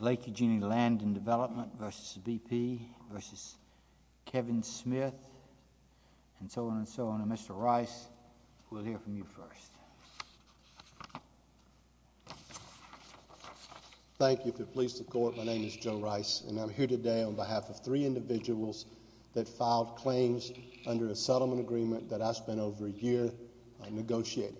Lake Eugenia Land and Development v. BP v. Kevin Smith, and so on and so on. Mr. Rice, we'll hear from you first. Thank you for your police support. My name is Joe Rice, and I'm here today on behalf of three individuals that filed claims under a settlement agreement that I spent over a year negotiating.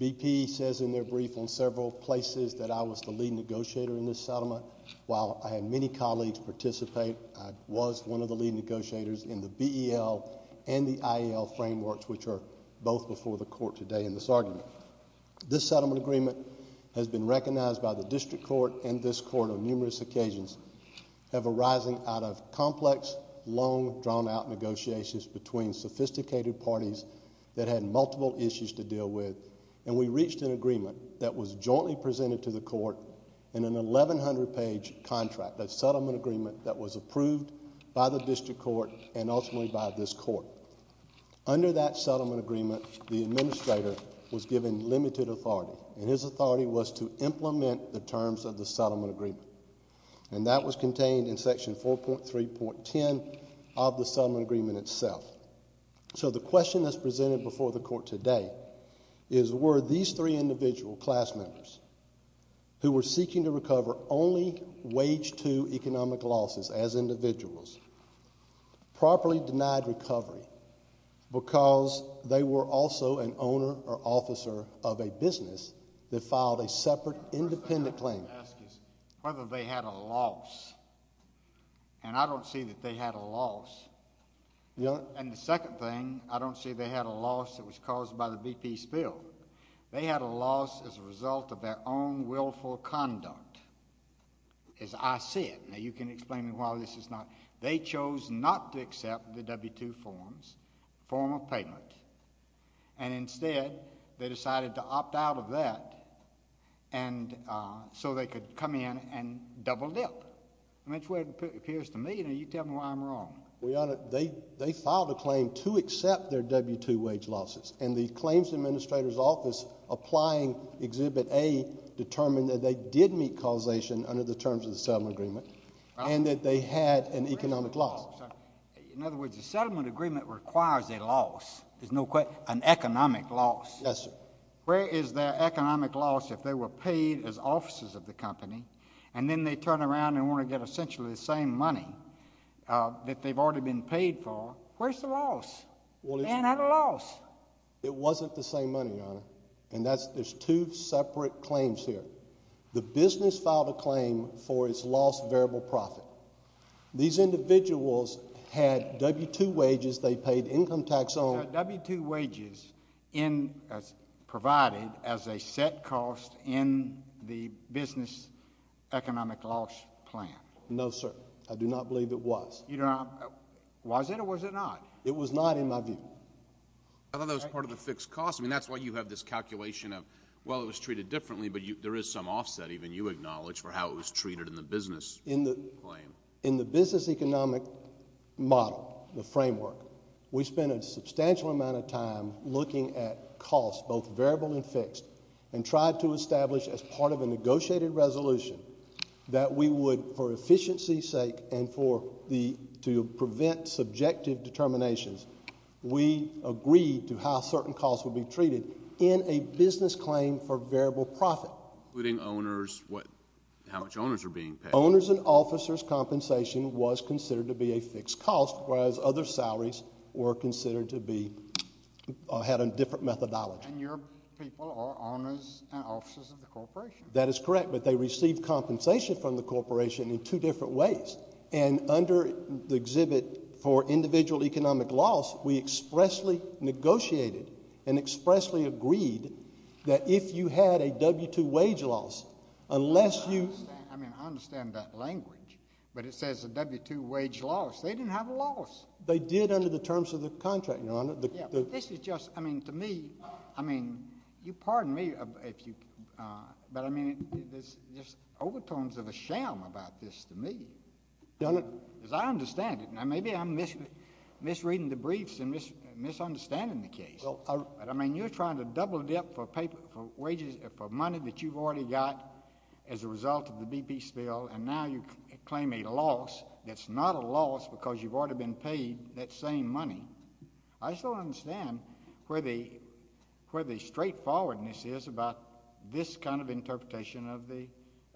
BP says in their brief on several places that I was the lead negotiator in this settlement. While I had many colleagues participate, I was one of the lead negotiators in the BEL and the IEL frameworks, which are both before the court today in this argument. This settlement agreement has been recognized by the district court and this court on numerous occasions, have arisen out of complex, long, drawn-out negotiations between sophisticated parties that had multiple issues to deal with. And we reached an agreement that was jointly presented to the court in an 1,100-page contract, a settlement agreement that was approved by the district court and ultimately by this court. Under that settlement agreement, the administrator was given limited authority, and his authority was to implement the terms of the settlement agreement. And that was contained in Section 4.3.10 of the settlement agreement itself. So the question that's presented before the court today is were these three individual class members who were seeking to recover only Wage 2 economic losses as individuals properly denied recovery because they were also an owner or officer of a business that filed a separate independent claim? The first thing I would ask is whether they had a loss. And I don't see that they had a loss. And the second thing, I don't see they had a loss that was caused by the BP spill. They had a loss as a result of their own willful conduct, as I see it. Now, you can explain to me why this is not. They chose not to accept the W-2 forms, form of payment, and instead they decided to opt out of that so they could come in and double dip. And that's the way it appears to me, and you tell me why I'm wrong. Well, Your Honor, they filed a claim to accept their W-2 wage losses, and the claims administrator's office applying Exhibit A determined that they did meet causation under the terms of the settlement agreement and that they had an economic loss. In other words, the settlement agreement requires a loss, an economic loss. Yes, sir. Where is their economic loss if they were paid as officers of the company and then they turn around and want to get essentially the same money that they've already been paid for? Where's the loss? They didn't have a loss. It wasn't the same money, Your Honor. And there's two separate claims here. The business filed a claim for its lost variable profit. These individuals had W-2 wages. They paid income tax on them. Now, W-2 wages provided as a set cost in the business economic loss plan. No, sir. I do not believe it was. Was it or was it not? It was not in my view. I thought that was part of the fixed cost. I mean, that's why you have this calculation of, well, it was treated differently, but there is some offset even you acknowledge for how it was treated in the business claim. In the business economic model, the framework, we spent a substantial amount of time looking at costs, both variable and fixed, and tried to establish as part of a negotiated resolution that we would, for efficiency's sake and to prevent subjective determinations, we agreed to how certain costs would be treated in a business claim for variable profit. Including owners, how much owners are being paid. Owners and officers' compensation was considered to be a fixed cost, whereas other salaries were considered to be, had a different methodology. And your people are owners and officers of the corporation. That is correct, but they receive compensation from the corporation in two different ways. And under the exhibit for individual economic loss, we expressly negotiated and expressly agreed that if you had a W-2 wage loss, unless you... I mean, I understand that language, but it says a W-2 wage loss. They didn't have a loss. They did under the terms of the contract, Your Honor. Yeah, but this is just, I mean, to me, I mean, you pardon me if you... But, I mean, there's overtones of a sham about this to me. As I understand it, now maybe I'm misreading the briefs and misunderstanding the case. But, I mean, you're trying to double dip for wages, for money that you've already got as a result of the BP spill, and now you claim a loss that's not a loss because you've already been paid that same money. I still understand where the straightforwardness is about this kind of interpretation of the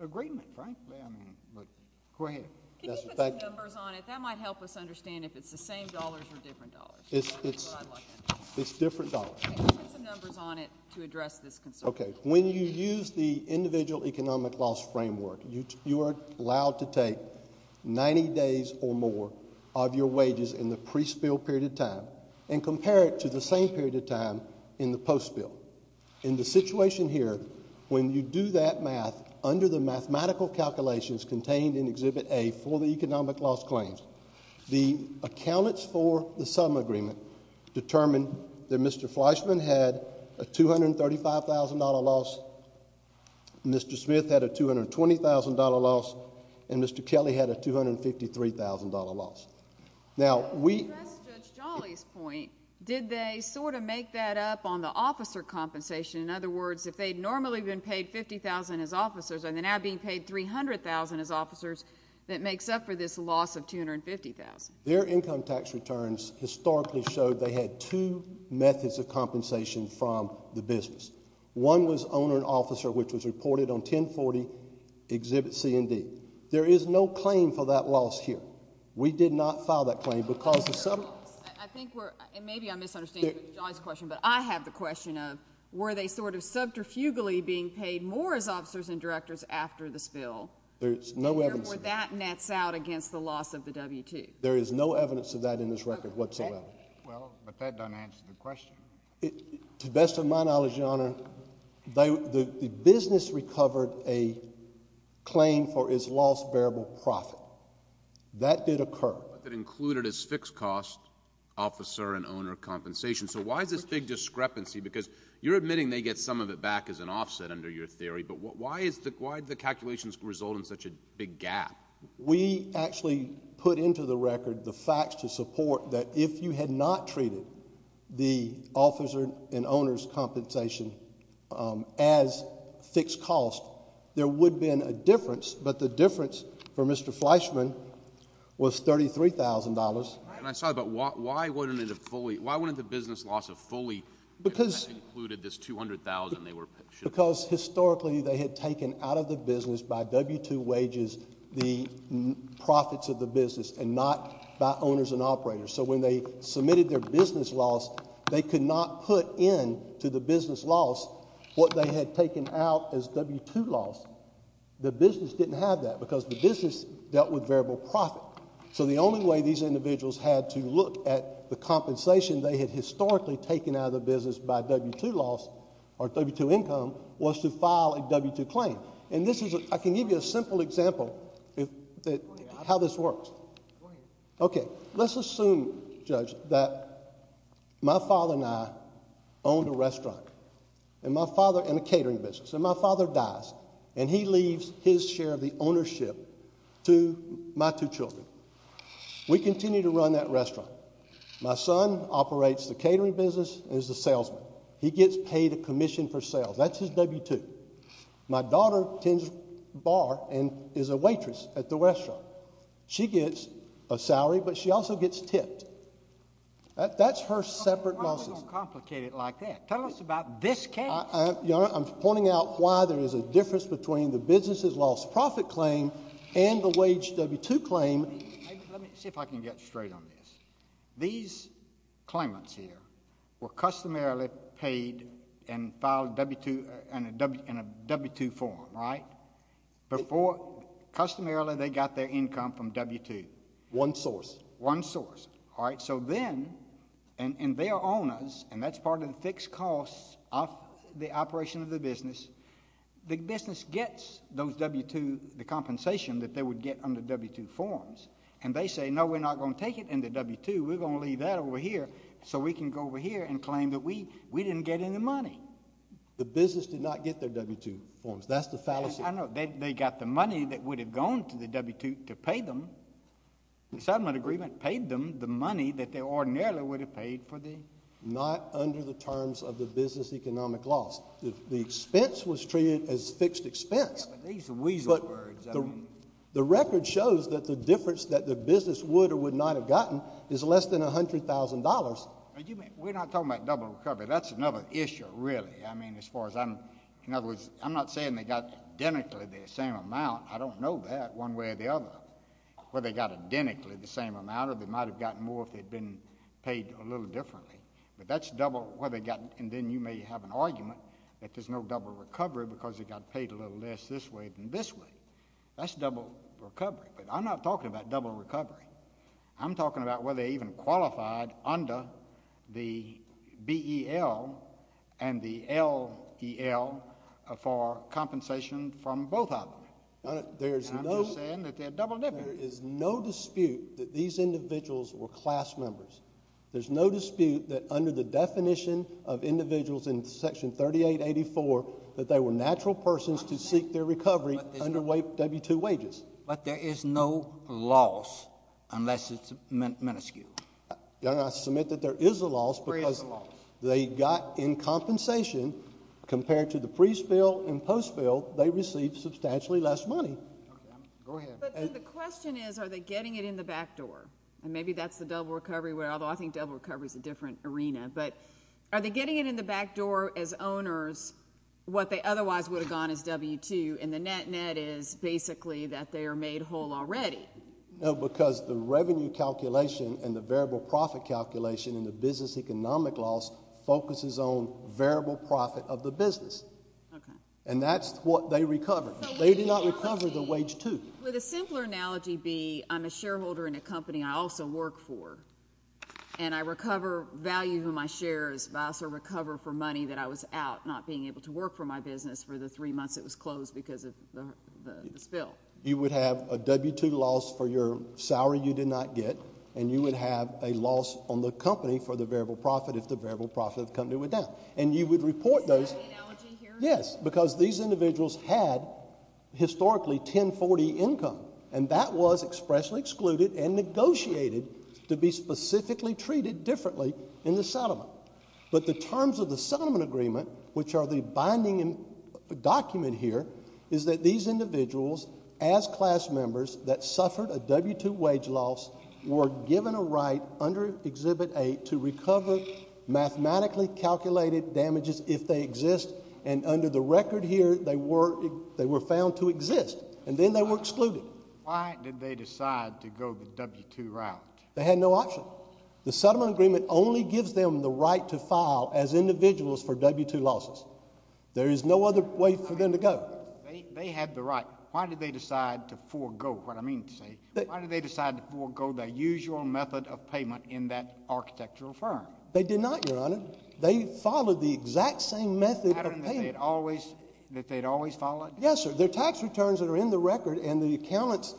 agreement, frankly. I mean, look, go ahead. Can you put some numbers on it? That might help us understand if it's the same dollars or different dollars. It's different dollars. Can you put some numbers on it to address this concern? Okay. When you use the individual economic loss framework, you are allowed to take 90 days or more of your wages in the pre-spill period of time and compare it to the same period of time in the post-spill. In the situation here, when you do that math, under the mathematical calculations contained in Exhibit A for the economic loss claims, the accountants for the sum agreement determined that Mr. Fleischman had a $235,000 loss, Mr. Smith had a $220,000 loss, and Mr. Kelly had a $253,000 loss. Now, we— To address Judge Jolly's point, did they sort of make that up on the officer compensation? In other words, if they'd normally been paid $50,000 as officers and they're now being paid $300,000 as officers, that makes up for this loss of $250,000. Their income tax returns historically showed they had two methods of compensation from the business. One was owner and officer, which was reported on 1040 Exhibit C and D. There is no claim for that loss here. We did not file that claim because the— I think we're—and maybe I'm misunderstanding Judge Jolly's question, but I have the question of were they sort of subterfugally being paid more as officers and directors after the spill? There is no evidence of that. Or were that nets out against the loss of the W-2? There is no evidence of that in this record whatsoever. Well, but that doesn't answer the question. To the best of my knowledge, Your Honor, the business recovered a claim for its lost bearable profit. That did occur. But that included its fixed-cost officer and owner compensation. So why is this big discrepancy? Because you're admitting they get some of it back as an offset under your theory, but why did the calculations result in such a big gap? We actually put into the record the facts to support that if you had not treated the officer and owner's compensation as fixed cost, there would have been a difference, but the difference for Mr. Fleischman was $33,000. And I'm sorry, but why wouldn't it have fully—why wouldn't the business loss have fully included this $200,000 they were— Because historically they had taken out of the business by W-2 wages the profits of the business and not by owners and operators. So when they submitted their business loss, they could not put into the business loss what they had taken out as W-2 loss. The business didn't have that because the business dealt with bearable profit. So the only way these individuals had to look at the compensation they had historically taken out of the business by W-2 loss or W-2 income was to file a W-2 claim. And this is—I can give you a simple example how this works. Okay, let's assume, Judge, that my father and I owned a restaurant and my father—and a catering business. And my father dies, and he leaves his share of the ownership to my two children. We continue to run that restaurant. My son operates the catering business and is the salesman. He gets paid a commission for sales. That's his W-2. My daughter tends a bar and is a waitress at the restaurant. She gets a salary, but she also gets tipped. That's her separate— Why are we going to complicate it like that? Tell us about this case. Your Honor, I'm pointing out why there is a difference between the business's lost profit claim and the wage W-2 claim. Let me see if I can get straight on this. These claimants here were customarily paid and filed W-2—in a W-2 form, right? Before—customarily they got their income from W-2. One source. One source. All right, so then—and they are owners, and that's part of the fixed costs of the operation of the business. The business gets those W-2—the compensation that they would get under W-2 forms. And they say, no, we're not going to take it in the W-2. We're going to leave that over here so we can go over here and claim that we didn't get any money. The business did not get their W-2 forms. That's the fallacy. I know. They got the money that would have gone to the W-2 to pay them. The settlement agreement paid them the money that they ordinarily would have paid for the— Not under the terms of the business economic loss. The expense was treated as fixed expense. Yeah, but these are weasel words. The record shows that the difference that the business would or would not have gotten is less than $100,000. We're not talking about double recovery. That's another issue, really. I mean, as far as I'm—in other words, I'm not saying they got identically the same amount. I don't know that, one way or the other, whether they got identically the same amount or they might have gotten more if they'd been paid a little differently. But that's double whether they got—and then you may have an argument that there's no double recovery because they got paid a little less this way than this way. That's double recovery. But I'm not talking about double recovery. I'm talking about whether they even qualified under the BEL and the LEL for compensation from both of them. And I'm just saying that they're double— There is no dispute that these individuals were class members. There's no dispute that under the definition of individuals in Section 3884 that they were natural persons to seek their recovery under W-2 wages. But there is no loss unless it's minuscule. Your Honor, I submit that there is a loss because they got in compensation. Compared to the pre-spill and post-spill, they received substantially less money. Go ahead. But then the question is, are they getting it in the back door? And maybe that's the double recovery, although I think double recovery is a different arena. But are they getting it in the back door as owners what they otherwise would have gotten as W-2? And the net-net is basically that they are made whole already. No, because the revenue calculation and the variable profit calculation and the business economic loss focuses on variable profit of the business. Okay. And that's what they recovered. They did not recover the W-2. With a simpler analogy be I'm a shareholder in a company I also work for, and I recover value in my shares, but I also recover for money that I was out, not being able to work for my business for the three months it was closed because of the spill. You would have a W-2 loss for your salary you did not get, and you would have a loss on the company for the variable profit if the variable profit of the company went down. And you would report those. Is that the analogy here? Yes, because these individuals had historically 1040 income, and that was expressly excluded and negotiated to be specifically treated differently in the settlement. But the terms of the settlement agreement, which are the binding document here, is that these individuals as class members that suffered a W-2 wage loss were given a right under Exhibit 8 to recover mathematically calculated damages if they exist, and under the record here they were found to exist, and then they were excluded. Why did they decide to go the W-2 route? They had no option. The settlement agreement only gives them the right to file as individuals for W-2 losses. There is no other way for them to go. They had the right. Why did they decide to forego what I mean to say? Why did they decide to forego the usual method of payment in that architectural firm? They did not, Your Honor. They followed the exact same method of payment. The pattern that they had always followed? Yes, sir. Their tax returns that are in the record and the accountants'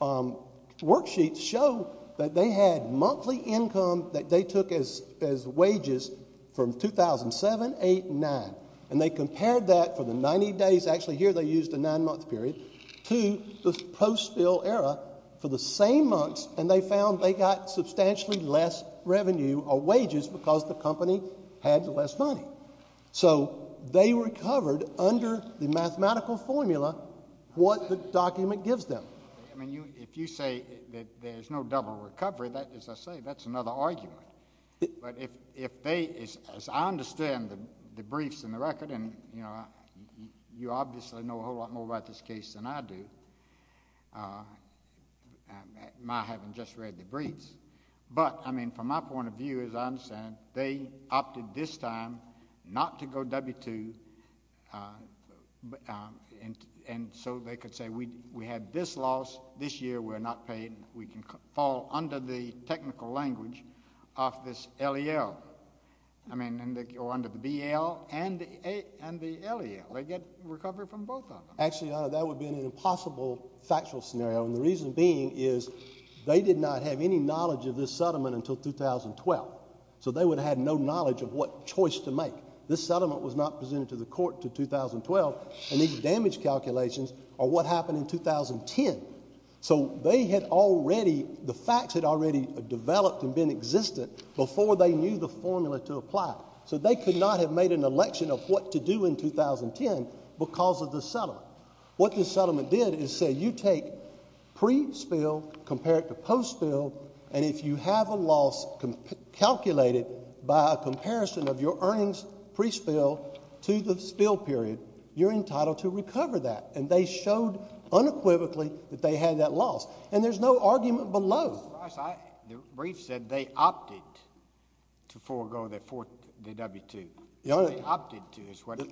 worksheets show that they had monthly income that they took as wages from 2007, 2008, and 2009, and they compared that for the 90 days, actually here they used a nine-month period, to the post-bill era for the same months, and they found they got substantially less revenue or wages because the company had less money. So they recovered under the mathematical formula what the document gives them. I mean, if you say that there's no double recovery, as I say, that's another argument. But if they, as I understand the briefs and the record, and you obviously know a whole lot more about this case than I do, my having just read the briefs, but, I mean, from my point of view, as I understand, they opted this time not to go W-2, and so they could say we had this loss, this year we're not paid, we can fall under the technical language of this LEL. I mean, or under the BL and the LEL. They get recovery from both of them. Actually, Your Honor, that would be an impossible factual scenario, and the reason being is they did not have any knowledge of this settlement until 2012. So they would have had no knowledge of what choice to make. This settlement was not presented to the court until 2012, and these damage calculations are what happened in 2010. So they had already, the facts had already developed and been existent before they knew the formula to apply. So they could not have made an election of what to do in 2010 because of this settlement. Now, what this settlement did is say you take pre-spill compared to post-spill, and if you have a loss calculated by a comparison of your earnings pre-spill to the spill period, you're entitled to recover that, and they showed unequivocally that they had that loss, and there's no argument below. The brief said they opted to forego the W-2. Your Honor,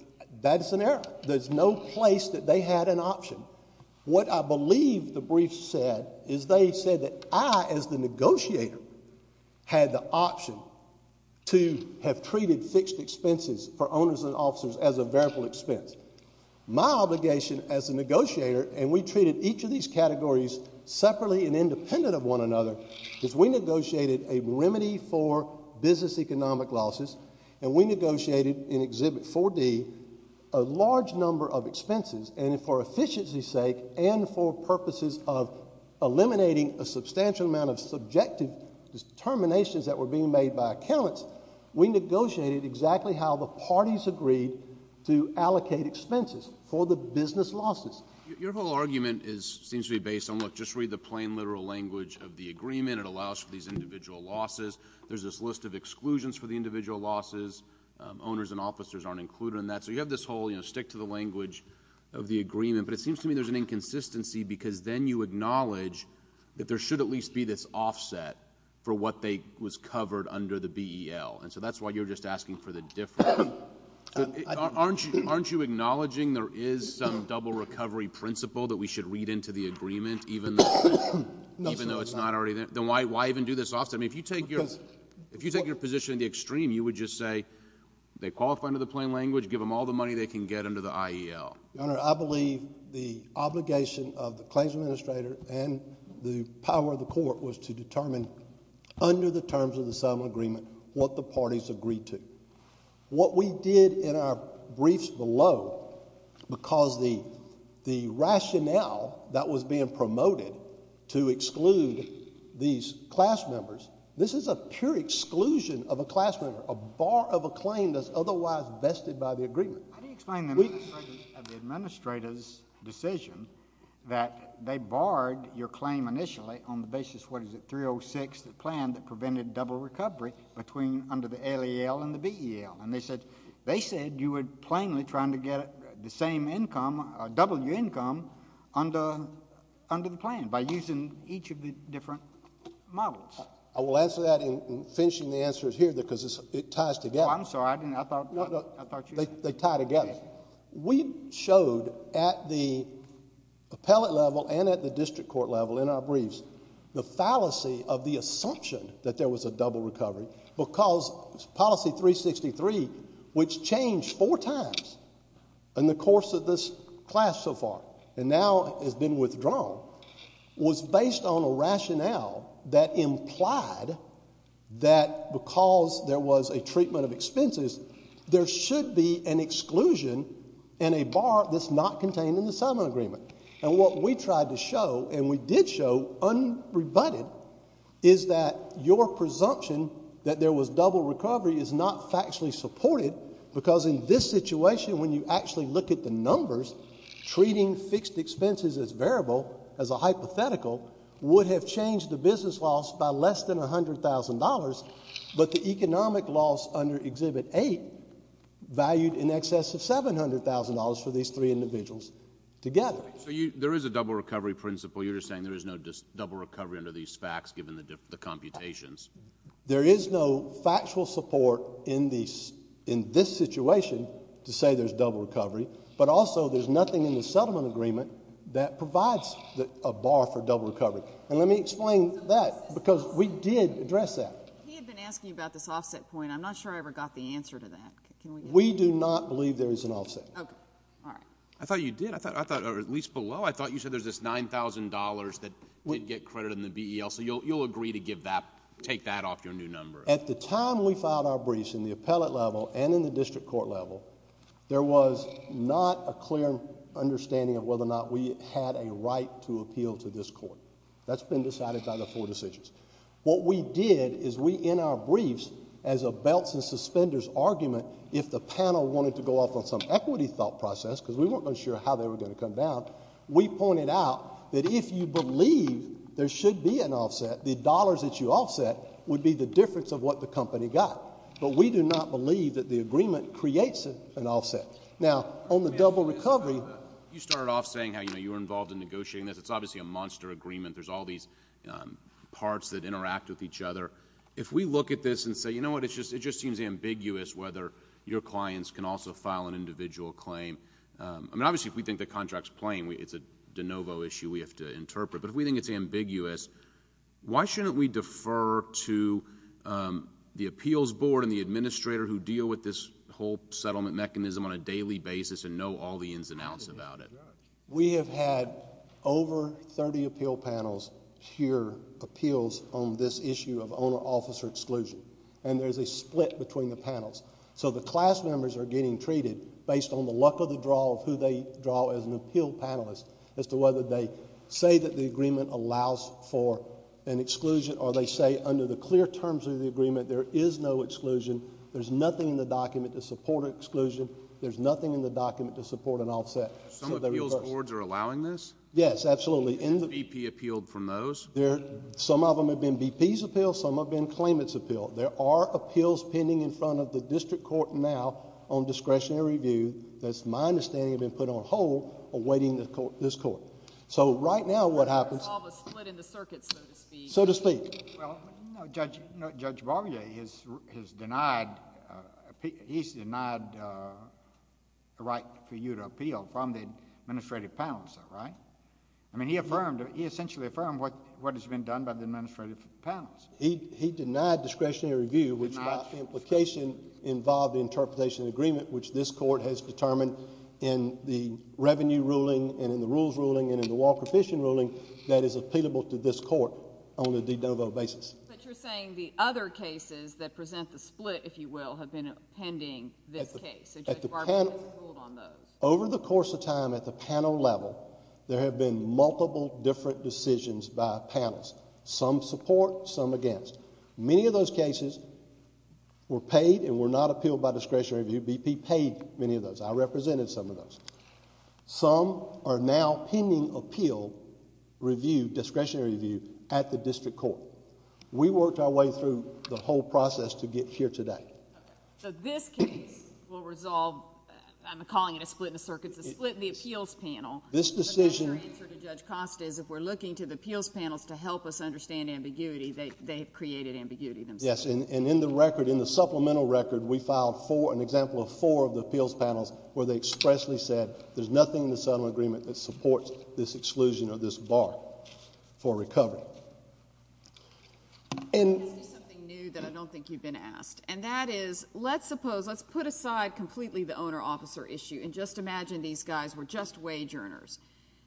that's an error. There's no place that they had an option. What I believe the brief said is they said that I, as the negotiator, had the option to have treated fixed expenses for owners and officers as a variable expense. My obligation as a negotiator, and we treated each of these categories separately and independent of one another, is we negotiated a remedy for business economic losses, and we negotiated in Exhibit 4D a large number of expenses, and for efficiency's sake and for purposes of eliminating a substantial amount of subjective determinations that were being made by accountants, we negotiated exactly how the parties agreed to allocate expenses for the business losses. Your whole argument seems to be based on, look, just read the plain literal language of the agreement. It allows for these individual losses. There's this list of exclusions for the individual losses. Owners and officers aren't included in that. So you have this whole stick to the language of the agreement, but it seems to me there's an inconsistency because then you acknowledge that there should at least be this offset for what was covered under the BEL, and so that's why you're just asking for the difference. Aren't you acknowledging there is some double recovery principle that we should read into the agreement even though it's not already there? Then why even do this offset? I mean, if you take your position to the extreme, you would just say they qualify under the plain language, give them all the money they can get under the IEL. Your Honor, I believe the obligation of the claims administrator and the power of the court was to determine under the terms of the settlement agreement what the parties agreed to. What we did in our briefs below, because the rationale that was being promoted to exclude these class members, this is a pure exclusion of a class member, a bar of a claim that's otherwise vested by the agreement. How do you explain the administration of the administrator's decision that they barred your claim initially on the basis, what is it, 306, the plan that prevented double recovery under the IEL and the BEL? And they said you were plainly trying to get the same income, double your income under the plan by using each of the different models. I will answer that in finishing the answers here because it ties together. Oh, I'm sorry. I thought you said. They tie together. We showed at the appellate level and at the district court level in our briefs the fallacy of the assumption that there was a double recovery because policy 363, which changed four times in the course of this class so far and now has been withdrawn, was based on a rationale that implied that because there was a treatment of expenses, there should be an exclusion and a bar that's not contained in the settlement agreement. And what we tried to show and we did show unrebutted is that your presumption that there was double recovery is not factually supported because in this situation when you actually look at the numbers, treating fixed expenses as variable, as a hypothetical, would have changed the business loss by less than $100,000, but the economic loss under Exhibit 8 valued in excess of $700,000 for these three individuals together. So there is a double recovery principle. You're just saying there is no double recovery under these facts given the computations. There is no factual support in this situation to say there's double recovery, but also there's nothing in the settlement agreement that provides a bar for double recovery. And let me explain that because we did address that. He had been asking about this offset point. I'm not sure I ever got the answer to that. We do not believe there is an offset. Okay. All right. I thought you did. I thought at least below, I thought you said there's this $9,000 that did get credited in the BEL, so you'll agree to take that off your new number. At the time we filed our briefs in the appellate level and in the district court level, there was not a clear understanding of whether or not we had a right to appeal to this court. That's been decided by the four decisions. What we did is we, in our briefs, as a belts and suspenders argument, if the panel wanted to go off on some equity thought process, because we weren't sure how they were going to come down, we pointed out that if you believe there should be an offset, the dollars that you offset would be the difference of what the company got. But we do not believe that the agreement creates an offset. Now, on the double recovery... You started off saying how you were involved in negotiating this. It's obviously a monster agreement. There's all these parts that interact with each other. If we look at this and say, you know what, it just seems ambiguous whether your clients can also file an individual claim. I mean, obviously, if we think the contract's plain, it's a de novo issue we have to interpret. But if we think it's ambiguous, why shouldn't we defer to the appeals board and the administrator who deal with this whole settlement mechanism on a daily basis and know all the ins and outs about it? We have had over 30 appeal panels hear appeals on this issue of owner-officer exclusion, and there's a split between the panels. So the class members are getting treated based on the luck of the draw of who they draw as an appeal panelist as to whether they say that the agreement allows for an exclusion or they say under the clear terms of the agreement there is no exclusion. There's nothing in the document to support an exclusion. There's nothing in the document to support an offset. Some appeals boards are allowing this? Yes, absolutely. BP appealed from those? Some of them have been BP's appeal. Some have been claimants' appeal. There are appeals pending in front of the district court now on discretionary review that's my understanding have been put on hold awaiting this court. So right now what happens... There's all the split in the circuit, so to speak. So to speak. Well, Judge Barbier, he's denied the right for you to appeal from the administrative panelist, right? I mean, he essentially affirmed what has been done by the administrative panelist. Denied discretionary review. The litigation involved interpretation agreement which this court has determined in the revenue ruling and in the rules ruling and in the Walker Fishing ruling that is appealable to this court on a de novo basis. But you're saying the other cases that present the split, if you will, have been pending this case. So Judge Barbier has appealed on those. Over the course of time at the panel level, there have been multiple different decisions by panelists, some support, some against. Many of those cases were paid and were not appealed by discretionary review. BP paid many of those. I represented some of those. Some are now pending appeal, discretionary review at the district court. We worked our way through the whole process to get here today. Okay. So this case will resolve, I'm calling it a split in the circuits, a split in the appeals panel. This decision... But that's your answer to Judge Costa is if we're looking to the appeals panels to help us understand ambiguity, they have created ambiguity themselves. Yes. And in the record, in the supplemental record, we filed an example of four of the appeals panels where they expressly said there's nothing in the settlement agreement that supports this exclusion or this bar for recovery. Is there something new that I don't think you've been asked? And that is, let's suppose, let's put aside completely the owner-officer issue and just imagine these guys were just wage earners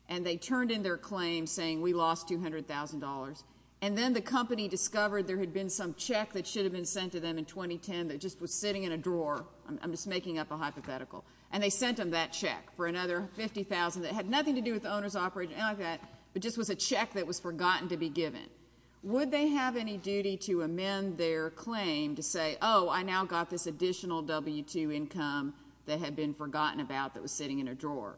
and they turned in their claim saying we lost $200,000 and then the company discovered there had been some check that should have been sent to them in 2010 that just was sitting in a drawer. I'm just making up a hypothetical. And they sent them that check for another $50,000 that had nothing to do with the owner's operation, anything like that, but just was a check that was forgotten to be given. Would they have any duty to amend their claim to say, oh, I now got this additional W-2 income that had been forgotten about that was sitting in a drawer?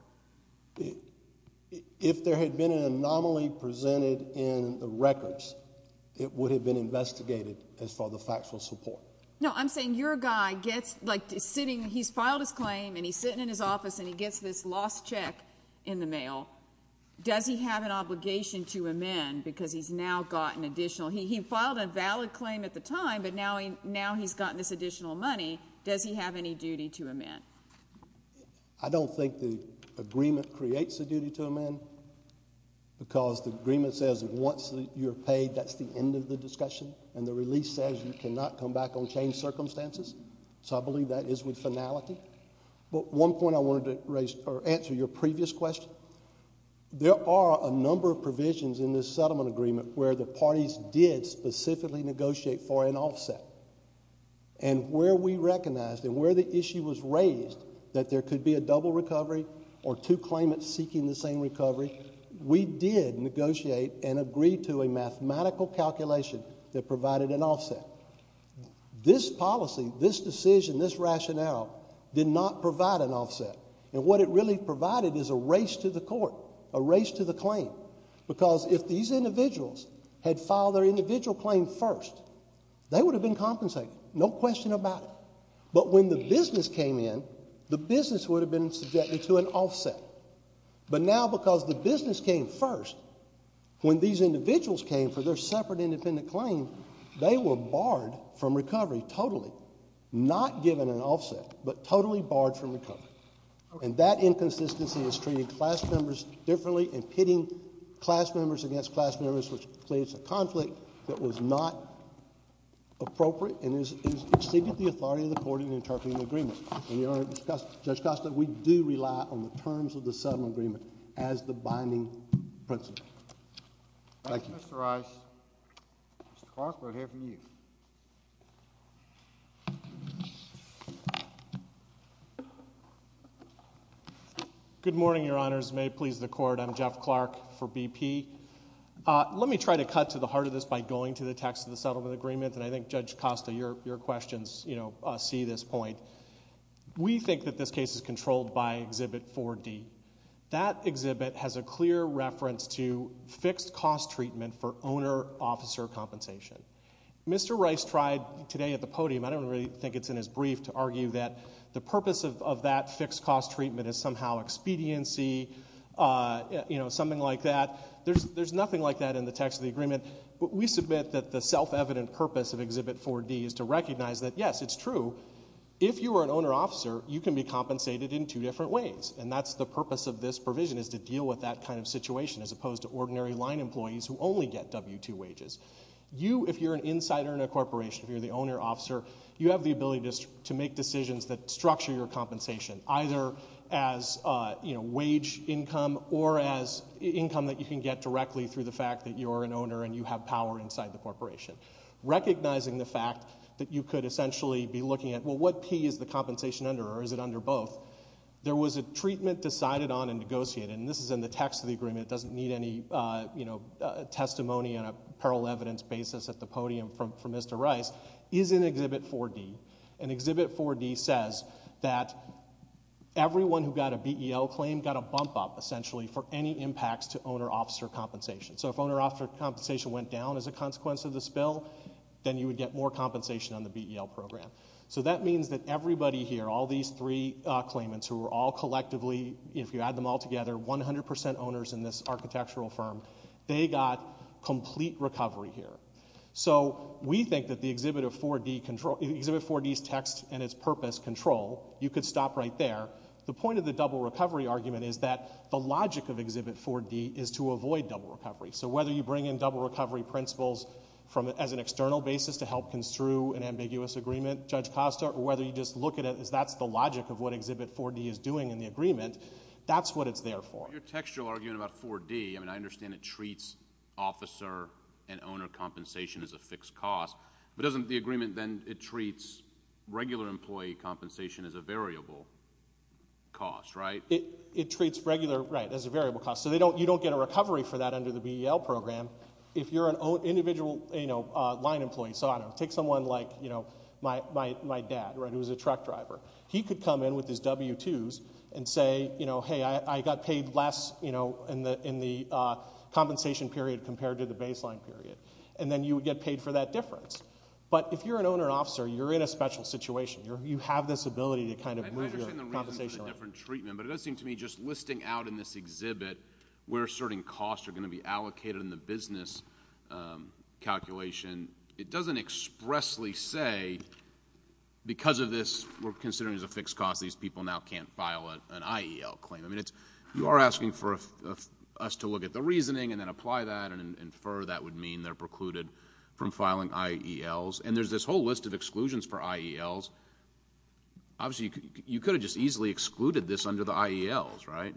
If there had been an anomaly presented in the records, it would have been investigated as for the factual support. No, I'm saying your guy gets, like, he's filed his claim and he's sitting in his office and he gets this lost check in the mail. Does he have an obligation to amend because he's now gotten additional? He filed a valid claim at the time, but now he's gotten this additional money. Does he have any duty to amend? I don't think the agreement creates a duty to amend because the agreement says that once you're paid, that's the end of the discussion, and the release says you cannot come back on changed circumstances. So I believe that is with finality. But one point I wanted to raise or answer your previous question, there are a number of provisions in this settlement agreement where the parties did specifically negotiate for an offset. And where we recognized and where the issue was raised that there could be a double recovery or two claimants seeking the same recovery, we did negotiate and agree to a mathematical calculation that provided an offset. This policy, this decision, this rationale did not provide an offset. And what it really provided is a race to the court, a race to the claim, because if these individuals had filed their individual claim first, they would have been compensated, no question about it. But when the business came in, the business would have been subjected to an offset. But now because the business came first, when these individuals came for their separate independent claim, they were barred from recovery totally. Not given an offset, but totally barred from recovery. And that inconsistency is treating class members differently, impeding class members against class members, which creates a conflict that was not appropriate and has exceeded the authority of the court in interpreting the agreement. And, Your Honor, Judge Costa, we do rely on the terms of the settlement agreement as the binding principle. Thank you. Mr. Rice, Mr. Clark, we'll hear from you. Good morning, Your Honors. May it please the Court, I'm Jeff Clark for BP. Let me try to cut to the heart of this by going to the text of the settlement agreement, and I think, Judge Costa, your questions see this point. We think that this case is controlled by Exhibit 4D. That exhibit has a clear reference to fixed-cost treatment for owner-officer compensation. Mr. Rice tried today at the podium, I don't really think it's in his brief, to argue that the purpose of that fixed-cost treatment is somehow expediency, you know, something like that. There's nothing like that in the text of the agreement. But we submit that the self-evident purpose of Exhibit 4D is to recognize that, yes, it's true, if you are an owner-officer, you can be compensated in two different ways, and that's the purpose of this provision, is to deal with that kind of situation, as opposed to ordinary line employees who only get W-2 wages. You, if you're an insider in a corporation, if you're the owner-officer, you have the ability to make decisions that structure your compensation, either as, you know, wage income or as income that you can get directly through the fact that you're an owner and you have power inside the corporation. Recognizing the fact that you could essentially be looking at, well, what P is the compensation under, or is it under both? There was a treatment decided on and negotiated, and this is in the text of the agreement, it doesn't need any, you know, testimony on a parallel evidence basis at the podium from Mr. Rice, is in Exhibit 4D. And Exhibit 4D says that everyone who got a BEL claim got a bump-up, essentially, for any impacts to owner-officer compensation. So if owner-officer compensation went down as a consequence of this bill, then you would get more compensation on the BEL program. So that means that everybody here, all these three claimants who were all collectively, if you add them all together, 100% owners in this architectural firm, they got complete recovery here. So we think that the exhibit of 4D control... Exhibit 4D's text and its purpose control, you could stop right there. The point of the double recovery argument is that the logic of Exhibit 4D is to avoid double recovery. So whether you bring in double recovery principles as an external basis to help construe an ambiguous agreement, Judge Costa, or whether you just look at it as that's the logic of what Exhibit 4D is doing in the agreement, Your textual argument about 4D, I mean, I understand it treats officer and owner compensation as a fixed cost, but doesn't the agreement then, it treats regular employee compensation as a variable cost, right? It treats regular, right, as a variable cost. So you don't get a recovery for that under the BEL program. If you're an individual, you know, line employee, so I don't know, take someone like, you know, my dad, right, who was a truck driver. He could come in with his W-2s and say, you know, compensation period compared to the baseline period, and then you would get paid for that difference. But if you're an owner and officer, you're in a special situation. You have this ability to kind of move your compensation rate. I understand the reason for the different treatment, but it does seem to me just listing out in this exhibit where certain costs are going to be allocated in the business calculation, it doesn't expressly say, because of this we're considering as a fixed cost, these people now can't file an IEL claim. I mean, you are asking for us to look at the reasoning and then apply that and infer that would mean they're precluded from filing IELs. And there's this whole list of exclusions for IELs. Obviously, you could have just easily excluded this under the IELs, right?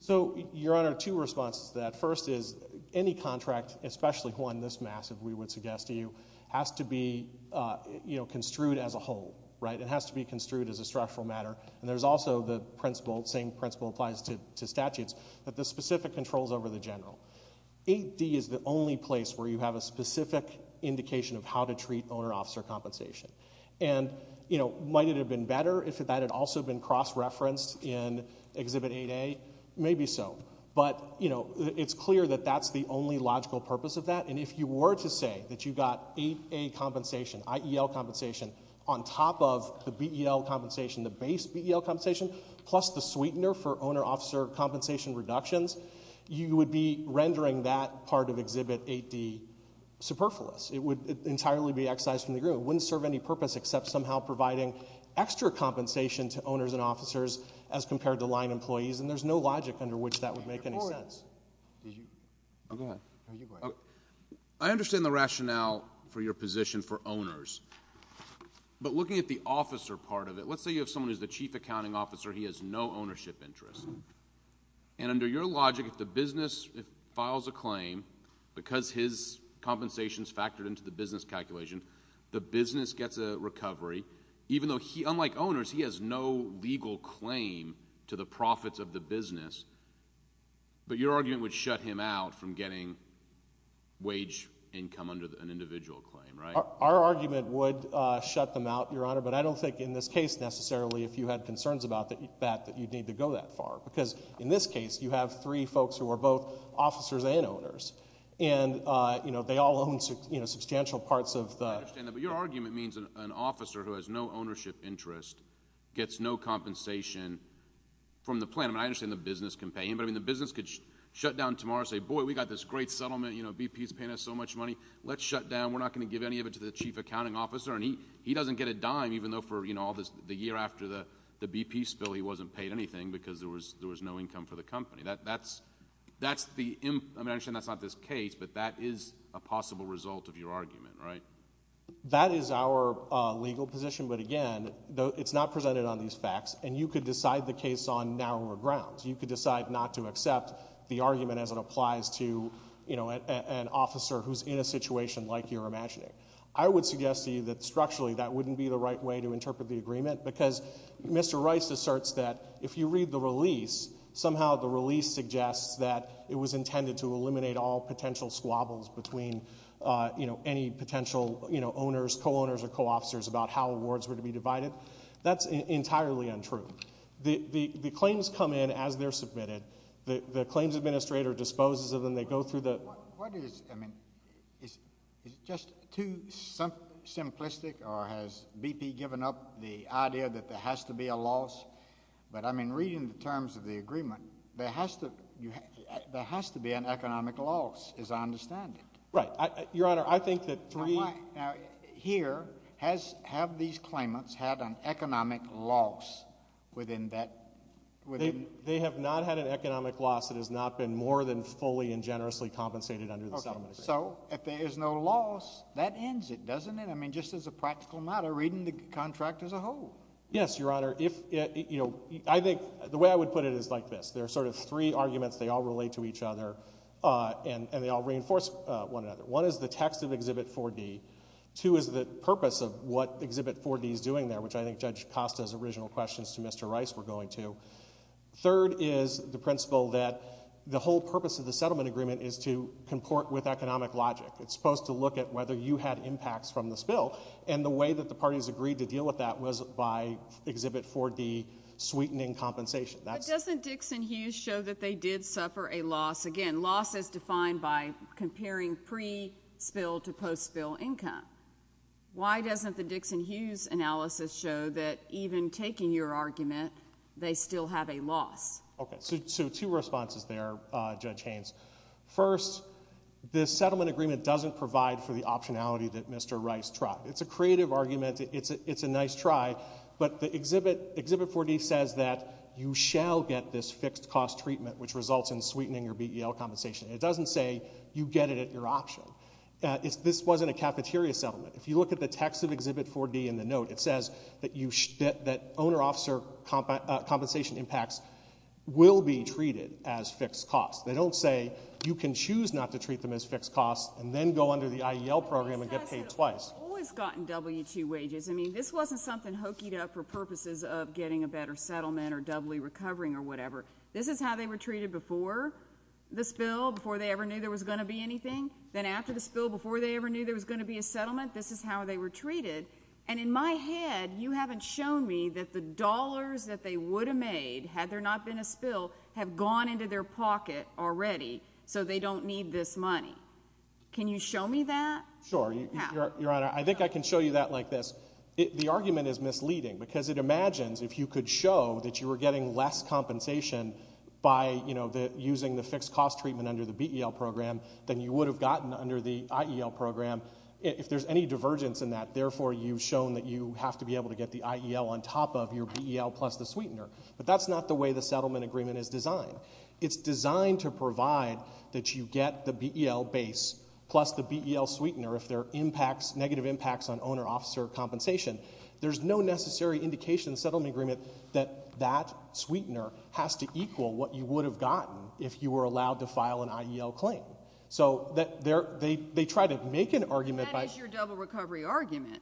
So, Your Honor, two responses to that. First is, any contract, especially one this massive, we would suggest to you, has to be, you know, construed as a whole, right? It has to be construed as a structural matter. And there's also the principle, the same principle applies to statutes, that the specific controls over the general. 8D is the only place where you have a specific indication of how to treat owner-officer compensation. And, you know, might it have been better if that had also been cross-referenced in Exhibit 8A? Maybe so. But, you know, it's clear that that's the only logical purpose of that. And if you were to say that you got 8A compensation, IEL compensation, on top of the BEL compensation, the base BEL compensation, plus the sweetener for owner-officer compensation reductions, you would be rendering that part of Exhibit 8D superfluous. It would entirely be excised from the agreement. It wouldn't serve any purpose except somehow providing extra compensation to owners and officers as compared to line employees. And there's no logic under which that would make any sense. Go ahead. I understand the rationale for your position for owners. But looking at the officer part of it, let's say you have someone who's the chief accounting officer. He has no ownership interest. And under your logic, if the business files a claim, because his compensation's factored into the business calculation, the business gets a recovery, even though, unlike owners, he has no legal claim to the profits of the business, but your argument would shut him out from getting wage income under an individual claim, right? Our argument would shut them out, Your Honor, but I don't think in this case necessarily, if you had concerns about that, that you'd need to go that far. Because in this case, you have three folks who are both officers and owners. And, you know, they all own substantial parts of the... I understand that, but your argument means an officer who has no ownership interest gets no compensation from the plan. I understand the business can pay him, but the business could shut down tomorrow, say, boy, we got this great settlement, BP's paying us so much money, let's shut down, we're not going to give any of it to the chief accounting officer, and he doesn't get a dime, even though for, you know, the year after the BP spill, he wasn't paid anything because there was no income for the company. That's the... I understand that's not this case, but that is a possible result of your argument, right? That is our legal position, but again, it's not presented on these facts, and you could decide the case on narrower grounds. You could decide not to accept the argument who's in a situation like you're imagining. I would suggest to you that structurally that wouldn't be the right way to interpret the agreement because Mr Rice asserts that if you read the release, somehow the release suggests that it was intended to eliminate all potential squabbles between, you know, any potential, you know, owners, co-owners or co-officers about how awards were to be divided. That's entirely untrue. The claims come in as they're submitted. The claims administrator disposes of them. They go through the... What is... I mean, is it just too simplistic, or has BP given up the idea that there has to be a loss? But, I mean, reading the terms of the agreement, there has to... there has to be an economic loss, as I understand it. Right. Your Honor, I think that... Now, here, have these claimants had an economic loss within that... They have not had an economic loss that has not been more than fully and generously compensated under the settlement agreement. Okay. So, if there is no loss, that ends it, doesn't it? I mean, just as a practical matter, reading the contract as a whole. Yes, Your Honor. If... You know, I think... The way I would put it is like this. There are sort of three arguments. They all relate to each other, and they all reinforce one another. One is the text of Exhibit 4D. Two is the purpose of what Exhibit 4D is doing there, which I think Judge Costa's original questions to Mr Rice were going to. Third is the principle that the whole purpose of the settlement agreement is to comport with economic logic. It's supposed to look at whether you had impacts from the spill, and the way that the parties agreed to deal with that was by Exhibit 4D, sweetening compensation. But doesn't Dixon-Hughes show that they did suffer a loss? Again, loss is defined by comparing pre-spill to post-spill income. Why doesn't the Dixon-Hughes analysis show that even taking your argument, they still have a loss? Okay, so two responses there, Judge Haynes. First, this settlement agreement doesn't provide for the optionality that Mr Rice tried. It's a creative argument, it's a nice try, but Exhibit 4D says that you shall get this fixed-cost treatment which results in sweetening your BEL compensation. It doesn't say you get it at your option. This wasn't a cafeteria settlement. If you look at the text of Exhibit 4D in the note, it says that owner-officer compensation impacts will be treated as fixed costs. They don't say you can choose not to treat them as fixed costs and then go under the IEL program and get paid twice. These guys have always gotten W-2 wages. I mean, this wasn't something hokeyed up for purposes of getting a better settlement or doubly recovering or whatever. This is how they were treated before the spill, before they ever knew there was going to be anything. Then after the spill, before they ever knew there was going to be a settlement, this is how they were treated. And in my head, you haven't shown me that the dollars that they would have made, had there not been a spill, have gone into their pocket already so they don't need this money. Can you show me that? Sure. Your Honor, I think I can show you that like this. The argument is misleading because it imagines if you could show that you were getting less compensation by using the fixed-cost treatment under the BEL program than you would have gotten under the IEL program, if there's any divergence in that, therefore you've shown that you have to be able to get the IEL on top of your BEL plus the sweetener. But that's not the way the settlement agreement is designed. It's designed to provide that you get the BEL base plus the BEL sweetener if there are negative impacts on owner-officer compensation. There's no necessary indication in the settlement agreement that that sweetener has to equal what you would have gotten if you were allowed to file an IEL claim. So they try to make an argument by... That is your double-recovery argument.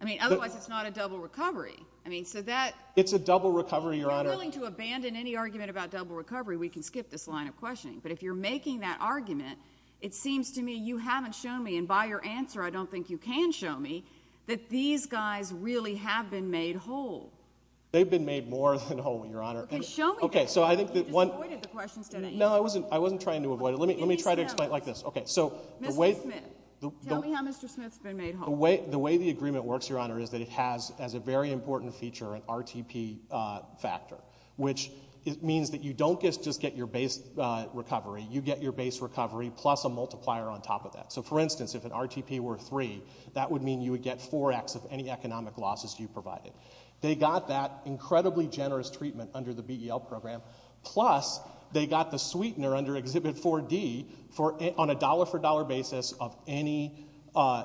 I mean, otherwise it's not a double recovery. I mean, so that... It's a double recovery, Your Honor. If you're willing to abandon any argument about double recovery, we can skip this line of questioning. But if you're making that argument, it seems to me you haven't shown me, and by your answer, I don't think you can show me, that these guys really have been made whole. They've been made more than whole, Your Honor. Okay, show me that. You just avoided the question. No, I wasn't trying to avoid it. Let me try to explain it like this. Mr. Smith, tell me how Mr. Smith's been made whole. The way the agreement works, Your Honor, is that it has, as a very important feature, an RTP factor, which means that you don't just get your base recovery. You get your base recovery plus a multiplier on top of that. So, for instance, if an RTP were 3, that would mean you would get 4x of any economic losses you provided. They got that incredibly generous treatment under the BEL program, plus they got the sweetener under Exhibit 4D on a dollar-for-dollar basis of any,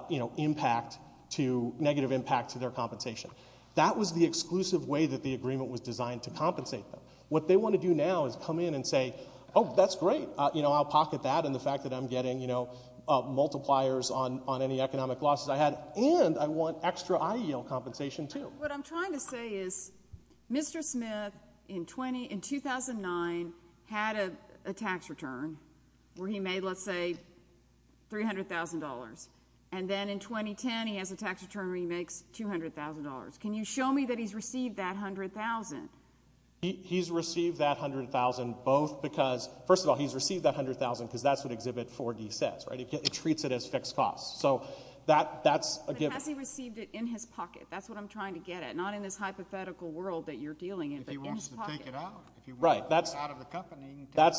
you know, impact to... negative impact to their compensation. That was the exclusive way that the agreement was designed to compensate them. What they want to do now is come in and say, oh, that's great, you know, I'll pocket that, and the fact that I'm getting, you know, multipliers on any economic losses I had, and I want extra IELTS compensation, too. What I'm trying to say is, Mr. Smith in 2009 had a tax return where he made, let's say, $300,000, and then in 2010 he has a tax return where he makes $200,000. Can you show me that he's received that $100,000? He's received that $100,000 both because... First of all, he's received that $100,000 because that's what Exhibit 4D says, right? It treats it as fixed costs. So that's a given. But has he received it in his pocket? That's what I'm trying to get at. Not in this hypothetical world that you're dealing in, but in his pocket. Right, that's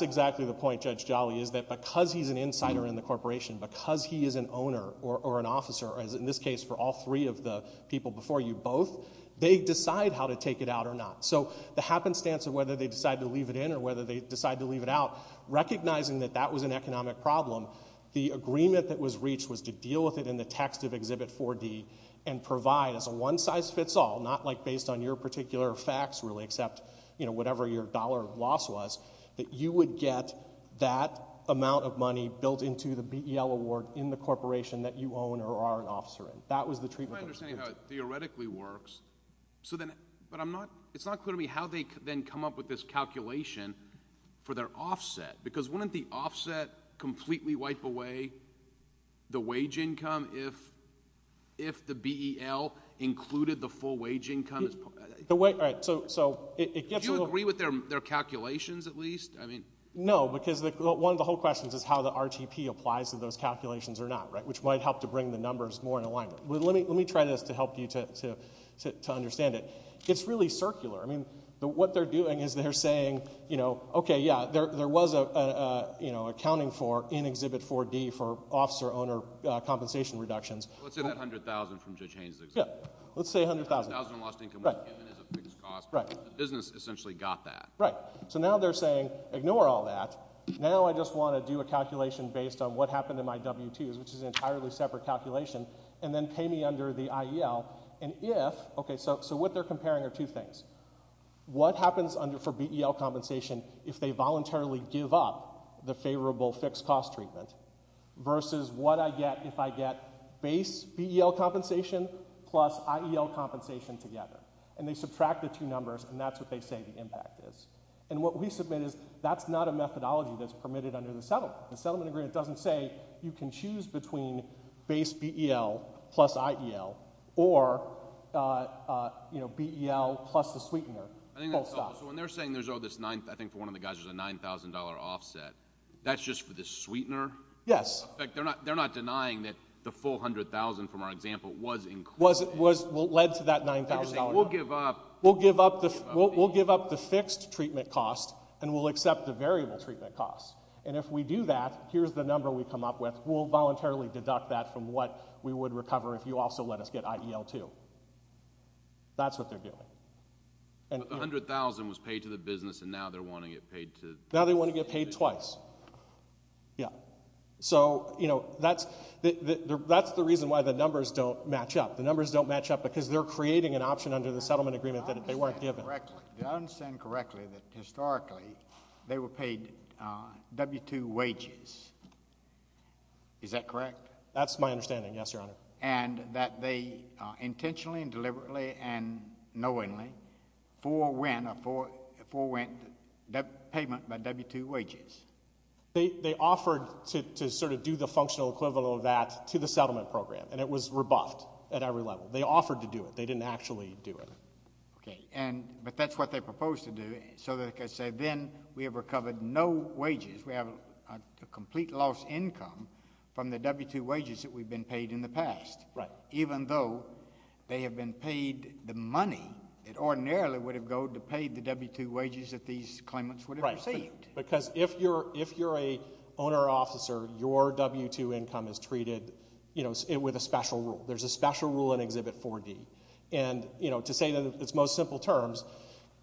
exactly the point, Judge Jolly, is that because he's an insider in the corporation, because he is an owner or an officer, as in this case for all three of the people before you both, they decide how to take it out or not. So the happenstance of whether they decide to leave it in or whether they decide to leave it out, recognizing that that was an economic problem, the agreement that was reached was to deal with it in the text of Exhibit 4D and provide as a one-size-fits-all, not, like, based on your particular facts, really, except, you know, whatever your dollar loss was, that you would get that amount of money built into the BEL award in the corporation that you own or are an officer in. That was the treatment... I'm not understanding how it theoretically works. So then... But I'm not... It's not clear to me how they then come up with this calculation for their offset, because wouldn't the offset completely wipe away the wage income if the BEL included the full wage income? The wage... All right, so... Do you agree with their calculations, at least? No, because one of the whole questions is how the RTP applies to those calculations or not, right, which might help to bring the numbers more in alignment. Let me try this to help you to understand it. It's really circular. I mean, what they're doing is they're saying, you know, OK, yeah, there was an accounting for in Exhibit 4D for officer-owner compensation reductions. Let's say that $100,000 from Judge Haynes, for example. Yeah. Let's say $100,000. $100,000 in lost income was given as a fixed cost. The business essentially got that. Right. So now they're saying, ignore all that. Now I just want to do a calculation based on what happened in my W-2s, which is an entirely separate calculation, and then pay me under the IEL. And if... OK, so what they're comparing are two things. What happens for BEL compensation if they voluntarily give up the favourable fixed-cost treatment? Versus what I get if I get base BEL compensation plus IEL compensation together. And they subtract the two numbers, and that's what they say the impact is. And what we submit is that's not a methodology that's permitted under the settlement. The settlement agreement doesn't say you can choose between base BEL plus IEL or, you know, BEL plus the sweetener, full stop. I think that's helpful. So when they're saying there's all this... I think for one of the guys there's a $9,000 offset, that's just for the sweetener? Yes. They're not denying that the full $100,000 from our example was included. Was... led to that $9,000. They're saying, we'll give up... We'll give up the fixed treatment cost, and we'll accept the variable treatment cost. And if we do that, here's the number we come up with, we'll voluntarily deduct that from what we would recover if you also let us get IEL-2. That's what they're doing. But the $100,000 was paid to the business, and now they're wanting it paid to... Now they want to get paid twice. Yeah. So, you know, that's... that's the reason why the numbers don't match up. The numbers don't match up because they're creating an option under the settlement agreement that they weren't given. Did I understand correctly that historically they were paid W-2 wages? Is that correct? That's my understanding, yes, Your Honor. And that they intentionally and deliberately and knowingly forewent a payment by W-2 wages? They offered to sort of do the functional equivalent of that to the settlement program, and it was rebuffed at every level. They offered to do it. They didn't actually do it. Okay, but that's what they proposed to do. So, like I said, then we have recovered no wages. We have a complete loss of income from the W-2 wages that we've been paid in the past. Right. Even though they have been paid the money that ordinarily would have gone to pay the W-2 wages that these claimants would have received. Right, because if you're a owner or officer, your W-2 income is treated, you know, with a special rule. There's a special rule in Exhibit 4D. And, you know, to say it in its most simple terms,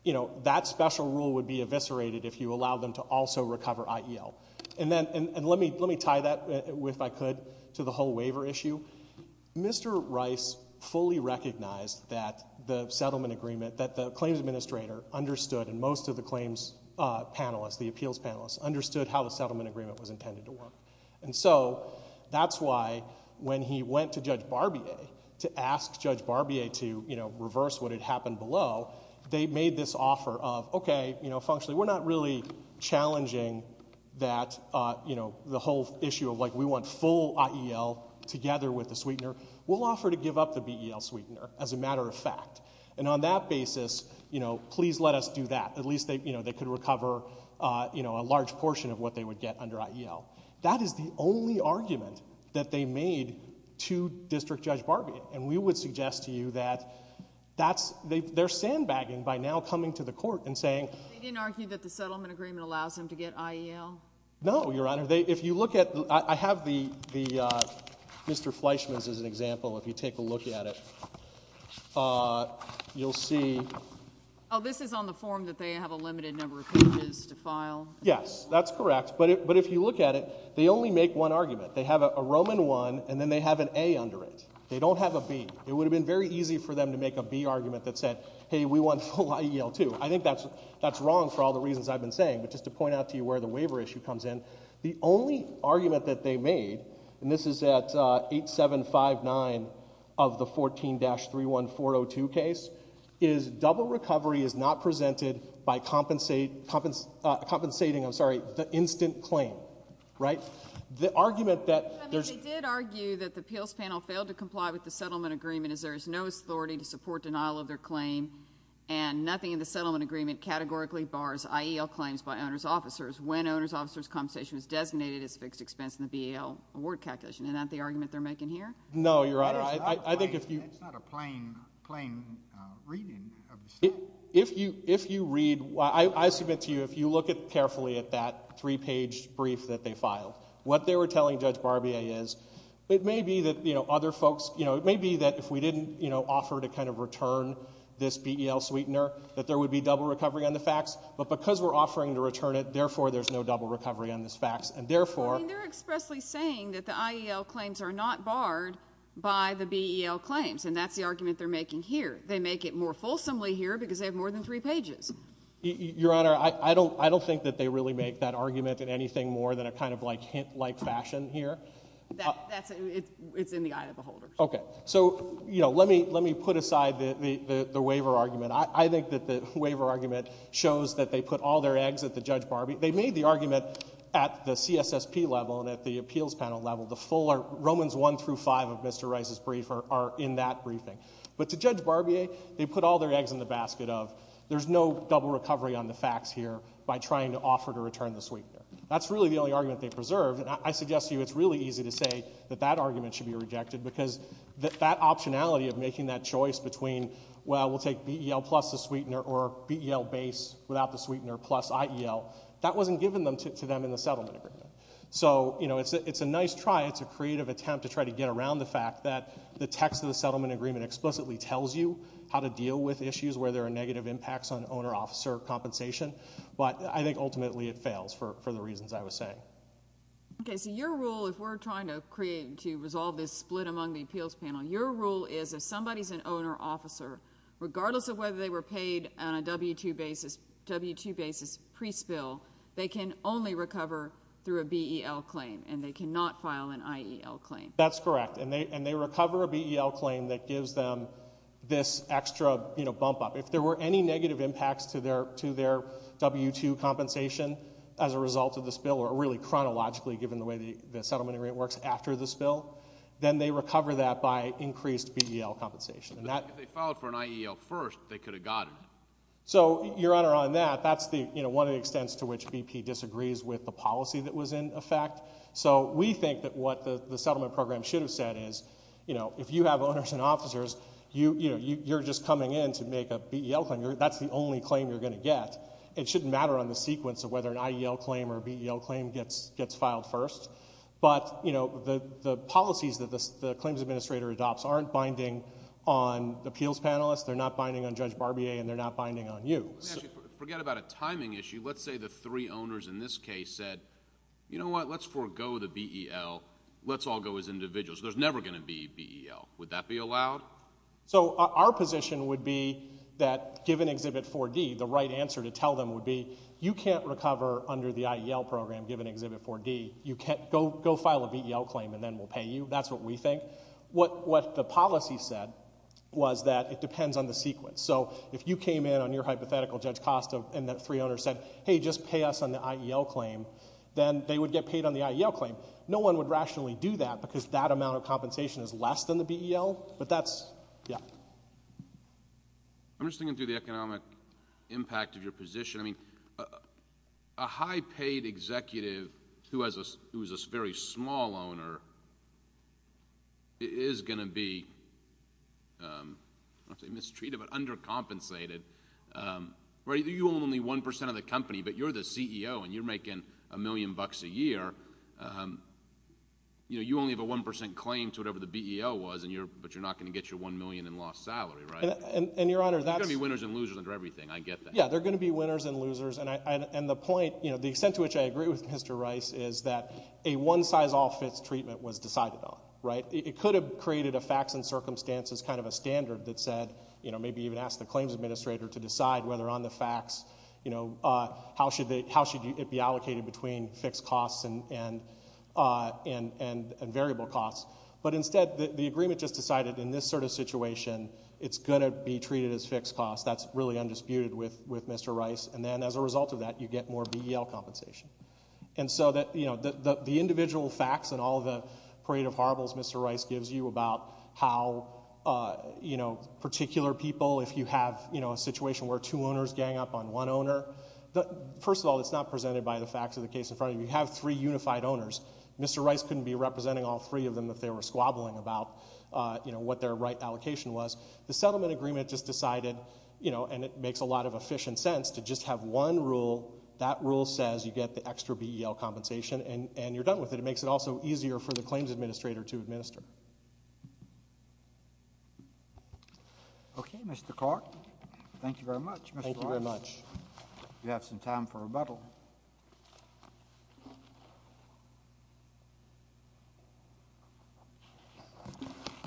you know, that special rule would be eviscerated if you allow them to also recover IEL. And let me tie that, if I could, to the whole waiver issue. Mr. Rice fully recognized that the settlement agreement, that the claims administrator understood, and most of the claims panelists, the appeals panelists, understood how the settlement agreement was intended to work. And so that's why when he went to Judge Barbier to ask Judge Barbier to, you know, reverse what had happened below, they made this offer of, okay, you know, functionally, we're not really challenging that, you know, the whole issue of, like, we want full IEL together with the sweetener. We'll offer to give up the BEL sweetener, as a matter of fact. And on that basis, you know, please let us do that. At least, you know, they could recover, you know, a large portion of what they would get under IEL. That is the only argument that they made to District Judge Barbier. And we would suggest to you that that's... They're sandbagging by now coming to the court and saying... They didn't argue that the settlement agreement allows them to get IEL? No, Your Honour. If you look at... I have the... Mr Fleischman's is an example, if you take a look at it. You'll see... Oh, this is on the form that they have a limited number of pages to file? Yes, that's correct. But if you look at it, they only make one argument. They have a Roman I, and then they have an A under it. They don't have a B. It would have been very easy for them to make a B argument that said, hey, we want full IEL, too. I think that's wrong for all the reasons I've been saying. But just to point out to you where the waiver issue comes in, the only argument that they made, and this is at 8759 of the 14-31402 case, is double recovery is not presented by compensating the instant claim. Right? The argument that... They did argue that the appeals panel failed to comply with the settlement agreement as there is no authority to support denial of their claim, and nothing in the settlement agreement categorically bars IEL claims by owner's officers when owner's officer's compensation is designated as a fixed expense in the BEL award calculation. Is that the argument they're making here? No, Your Honor. That's not a plain reading of the statement. If you read... I submit to you, if you look carefully at that 3-page brief that they filed, what they were telling Judge Barbier is, it may be that other folks... It may be that if we didn't offer to kind of return this BEL sweetener, that there would be double recovery on the fax, but because we're offering to return it, therefore there's no double recovery on this fax, and therefore... Well, I mean, they're expressly saying that the IEL claims are not barred by the BEL claims, and that's the argument they're making here. They make it more fulsomely here because they have more than 3 pages. Your Honor, I don't think that they really make that argument in anything more than a kind of hint-like fashion here. That's... It's in the eye of the beholder. Okay. So, you know, let me put aside the waiver argument. I think that the waiver argument shows that they put all their eggs at the Judge Barbier... They made the argument at the CSSP level and at the appeals panel level. The full... Romans 1 through 5 of Mr Rice's brief are in that briefing. But to Judge Barbier, they put all their eggs in the basket of there's no double recovery on the fax here by trying to offer to return the sweetener. That's really the only argument they preserved, and I suggest to you it's really easy to say that that argument should be rejected because that optionality of making that choice between, well, we'll take BEL plus the sweetener or BEL base without the sweetener plus IEL, that wasn't given to them in the settlement agreement. So, you know, it's a nice try. It's a creative attempt to try to get around the fact that the text of the settlement agreement explicitly tells you how to deal with issues where there are negative impacts on owner-officer compensation, but I think ultimately it fails for the reasons I was saying. Okay, so your rule, if we're trying to create... to resolve this split among the appeals panel, your rule is if somebody's an owner-officer, regardless of whether they were paid on a W-2 basis, W-2 basis pre-spill, they can only recover through a BEL claim and they cannot file an IEL claim. That's correct, and they recover a BEL claim that gives them this extra, you know, bump-up. If there were any negative impacts to their W-2 compensation as a result of the spill, or really chronologically, given the way the settlement agreement works after the spill, then they recover that by increased BEL compensation. If they filed for an IEL first, they could have gotten it. So, Your Honor, on that, that's one of the extents to which BP disagrees with the policy that was in effect. So we think that what the settlement program should have said is, you know, if you have owners and officers, you're just coming in to make a BEL claim. That's the only claim you're going to get. It shouldn't matter on the sequence of whether an IEL claim or BEL claim gets filed first, but, you know, the policies that the claims administrator adopts aren't binding on appeals panelists, they're not binding on Judge Barbier, and they're not binding on you. Let me ask you, forget about a timing issue. Let's say the three owners in this case said, you know what, let's forego the BEL, let's all go as individuals. There's never going to be BEL. Would that be allowed? So our position would be that, given Exhibit 4D, the right answer to tell them would be, you can't recover under the IEL program, given Exhibit 4D. You can't go file a BEL claim and then we'll pay you. That's what we think. What the policy said was that it depends on the sequence. So if you came in on your hypothetical, Judge Costa, and the three owners said, hey, just pay us on the IEL claim, then they would get paid on the IEL claim. No one would rationally do that because that amount of compensation is less than the BEL, but that's... Yeah. I'm just thinking through the economic impact of your position. I mean, a high-paid executive who is a very small owner is going to be, I don't want to say mistreated, but undercompensated. You own only 1% of the company, but you're the CEO, and you're making a million bucks a year. You only have a 1% claim to whatever the BEL was, but you're not going to get your $1 million in lost salary, right? And, Your Honor, that's... There are going to be winners and losers under everything. I get that. Yeah, there are going to be winners and losers. And the point, you know, the extent to which I agree with Mr. Rice is that a one-size-all fits treatment was decided on, right? It could have created a facts and circumstances kind of a standard that said, you know, maybe even ask the claims administrator to decide whether on the facts, you know, how should it be allocated between fixed costs and variable costs. But instead, the agreement just decided, in this sort of situation, it's going to be treated as fixed costs. That's really undisputed with Mr. Rice. And then, as a result of that, you get more BEL compensation. And so, you know, the individual facts and all the parade of horribles Mr. Rice gives you about how, you know, particular people, if you have, you know, a situation where two owners gang up on one owner, first of all, it's not presented by the facts of the case in front of you. You have three unified owners. Mr. Rice couldn't be representing all three of them if they were squabbling about, you know, what their right allocation was. The settlement agreement just decided, you know, and it makes a lot of efficient sense to just have one rule. That rule says you get the extra BEL compensation, and you're done with it. It makes it also easier for the claims administrator to administer. Okay, Mr. Clark. Thank you very much, Mr. Rice. You have some time for rebuttal.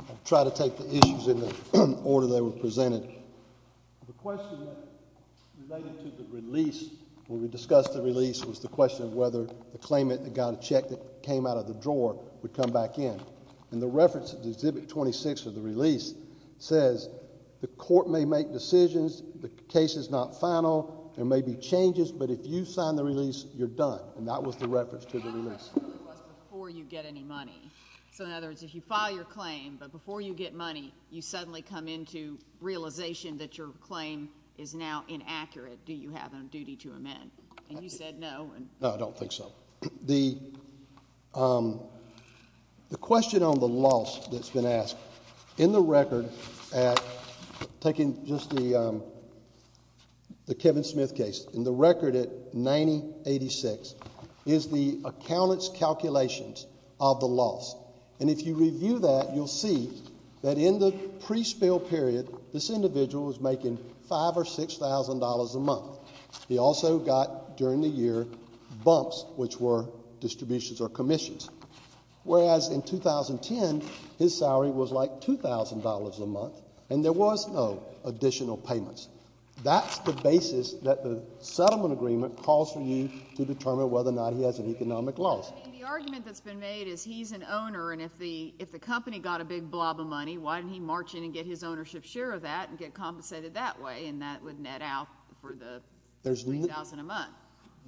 I'll try to take the issues in the order they were presented. The question related to the release, when we discussed the release, was the question of whether the claimant that got a check that came out of the drawer would come back in. And the reference to Exhibit 26 of the release says, the court may make decisions, the case is not final, there may be changes, but if you sign the release, you're done. And that was the reference to the release. And the question really was before you get any money. So in other words, if you file your claim, but before you get money, you suddenly come into realization that your claim is now inaccurate. Do you have a duty to amend? And you said no. No, I don't think so. The question on the loss that's been asked, in the record, taking just the Kevin Smith case, in the record at 9086, is the accountant's calculations of the loss. And if you review that, you'll see that in the pre-spill period, this individual was making $5,000 or $6,000 a month. He also got, during the year, bumps, which were distributions or commissions. Whereas in 2010, his salary was like $2,000 a month, and there was no additional payments. That's the basis that the settlement agreement calls for you to determine whether or not he has an economic loss. I mean, the argument that's been made is he's an owner, and if the company got a big blob of money, why didn't he march in and get his ownership share of that and get compensated that way, and that would net out for the $3,000 a month.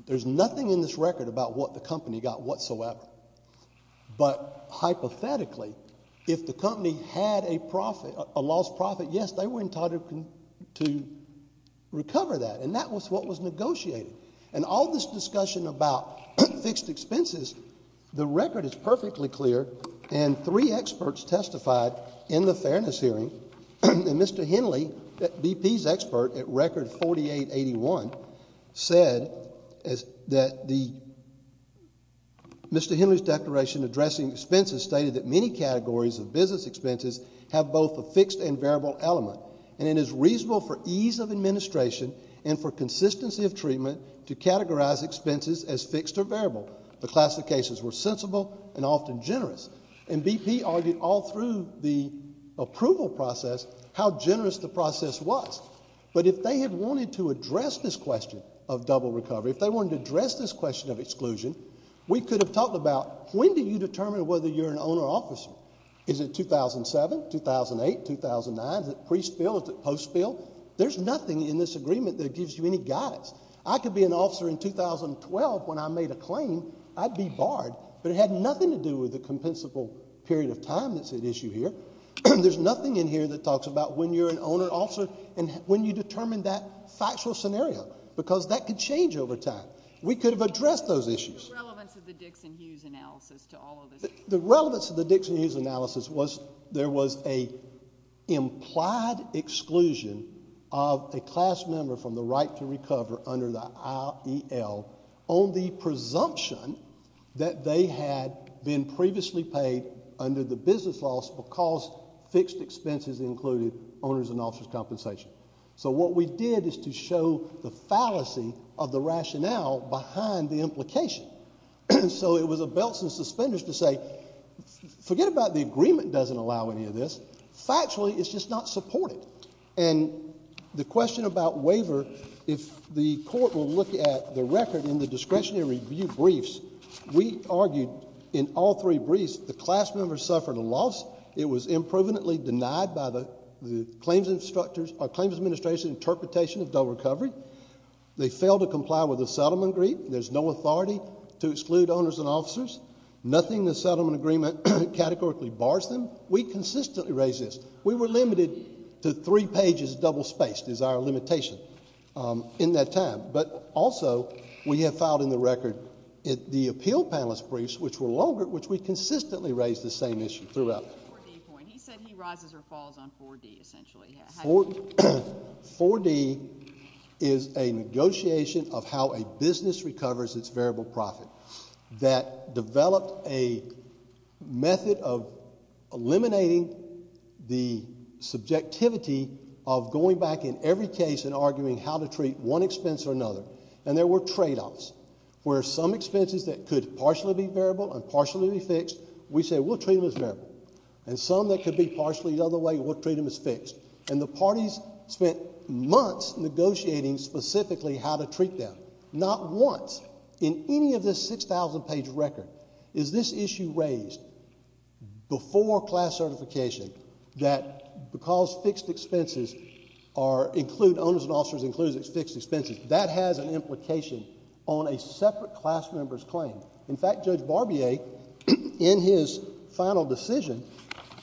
There's nothing in this record about what the company got whatsoever. But hypothetically, if the company had a loss profit, yes, they were entitled to recover that, and that was what was negotiated. And all this discussion about fixed expenses, the record is perfectly clear, and three experts testified in the fairness hearing. And Mr. Henley, BP's expert at Record 4881, said that Mr. Henley's declaration addressing expenses stated that many categories of business expenses have both a fixed and variable element, and it is reasonable for ease of administration and for consistency of treatment to categorize expenses as fixed or variable. The classifications were sensible and often generous. And BP argued all through the approval process how generous the process was. But if they had wanted to address this question of double recovery, if they wanted to address this question of exclusion, we could have talked about when do you determine whether you're an owner-officer? Is it 2007, 2008, 2009? Is it pre-spill? Is it post-spill? There's nothing in this agreement that gives you any guidance. I could be an officer in 2012 when I made a claim. I'd be barred. But it had nothing to do with the compensable period of time that's at issue here. There's nothing in here that talks about when you're an owner-officer and when you determine that factual scenario because that could change over time. We could have addressed those issues. What was the relevance of the Dixon-Hughes analysis to all of this? The relevance of the Dixon-Hughes analysis was there was an implied exclusion of a class member from the right to recover under the IEL on the presumption that they had been previously paid under the business laws because fixed expenses included owners' and officers' compensation. So what we did is to show the fallacy of the rationale behind the implication. So it was a belt and suspenders to say, forget about the agreement doesn't allow any of this. Factually, it's just not supported. And the question about waiver, if the court will look at the record in the discretionary review briefs, we argued in all three briefs the class member suffered a loss. It was improvidently denied by the claims instructors or claims administration's interpretation of dual recovery. They failed to comply with the settlement agreement. There's no authority to exclude owners and officers. Nothing in the settlement agreement categorically bars them. We consistently raised this. We were limited to three pages double-spaced is our limitation in that time. But also we have filed in the record the appeal panelist briefs, which were longer, which we consistently raised the same issue throughout. He said he rises or falls on 4D essentially. 4D is a negotiation of how a business recovers its variable profit that developed a method of eliminating the subjectivity of going back in every case and arguing how to treat one expense or another. And there were tradeoffs where some expenses that could partially be variable and partially be fixed, we said we'll treat them as variable. And some that could be partially the other way, we'll treat them as fixed. And the parties spent months negotiating specifically how to treat them, not once. In any of this 6,000-page record is this issue raised before class certification that because fixed expenses include owners and officers, includes fixed expenses, that has an implication on a separate class member's claim. In fact, Judge Barbier, in his final decision,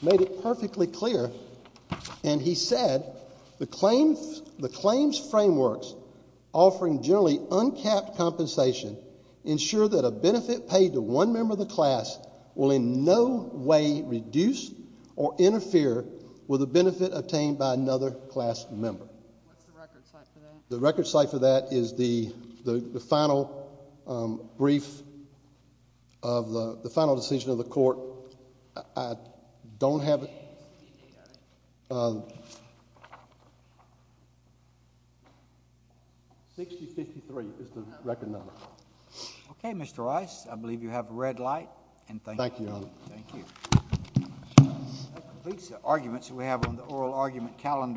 made it perfectly clear, and he said the claims frameworks offering generally uncapped compensation ensure that a benefit paid to one member of the class will in no way reduce or interfere with a benefit obtained by another class member. What's the record site for that? The record site for that is the final decision of the court. I don't have it. 6053 is the record number. Okay, Mr. Rice, I believe you have a red light. Thank you, Your Honor. Thank you. That completes the arguments we have on the oral argument calendar.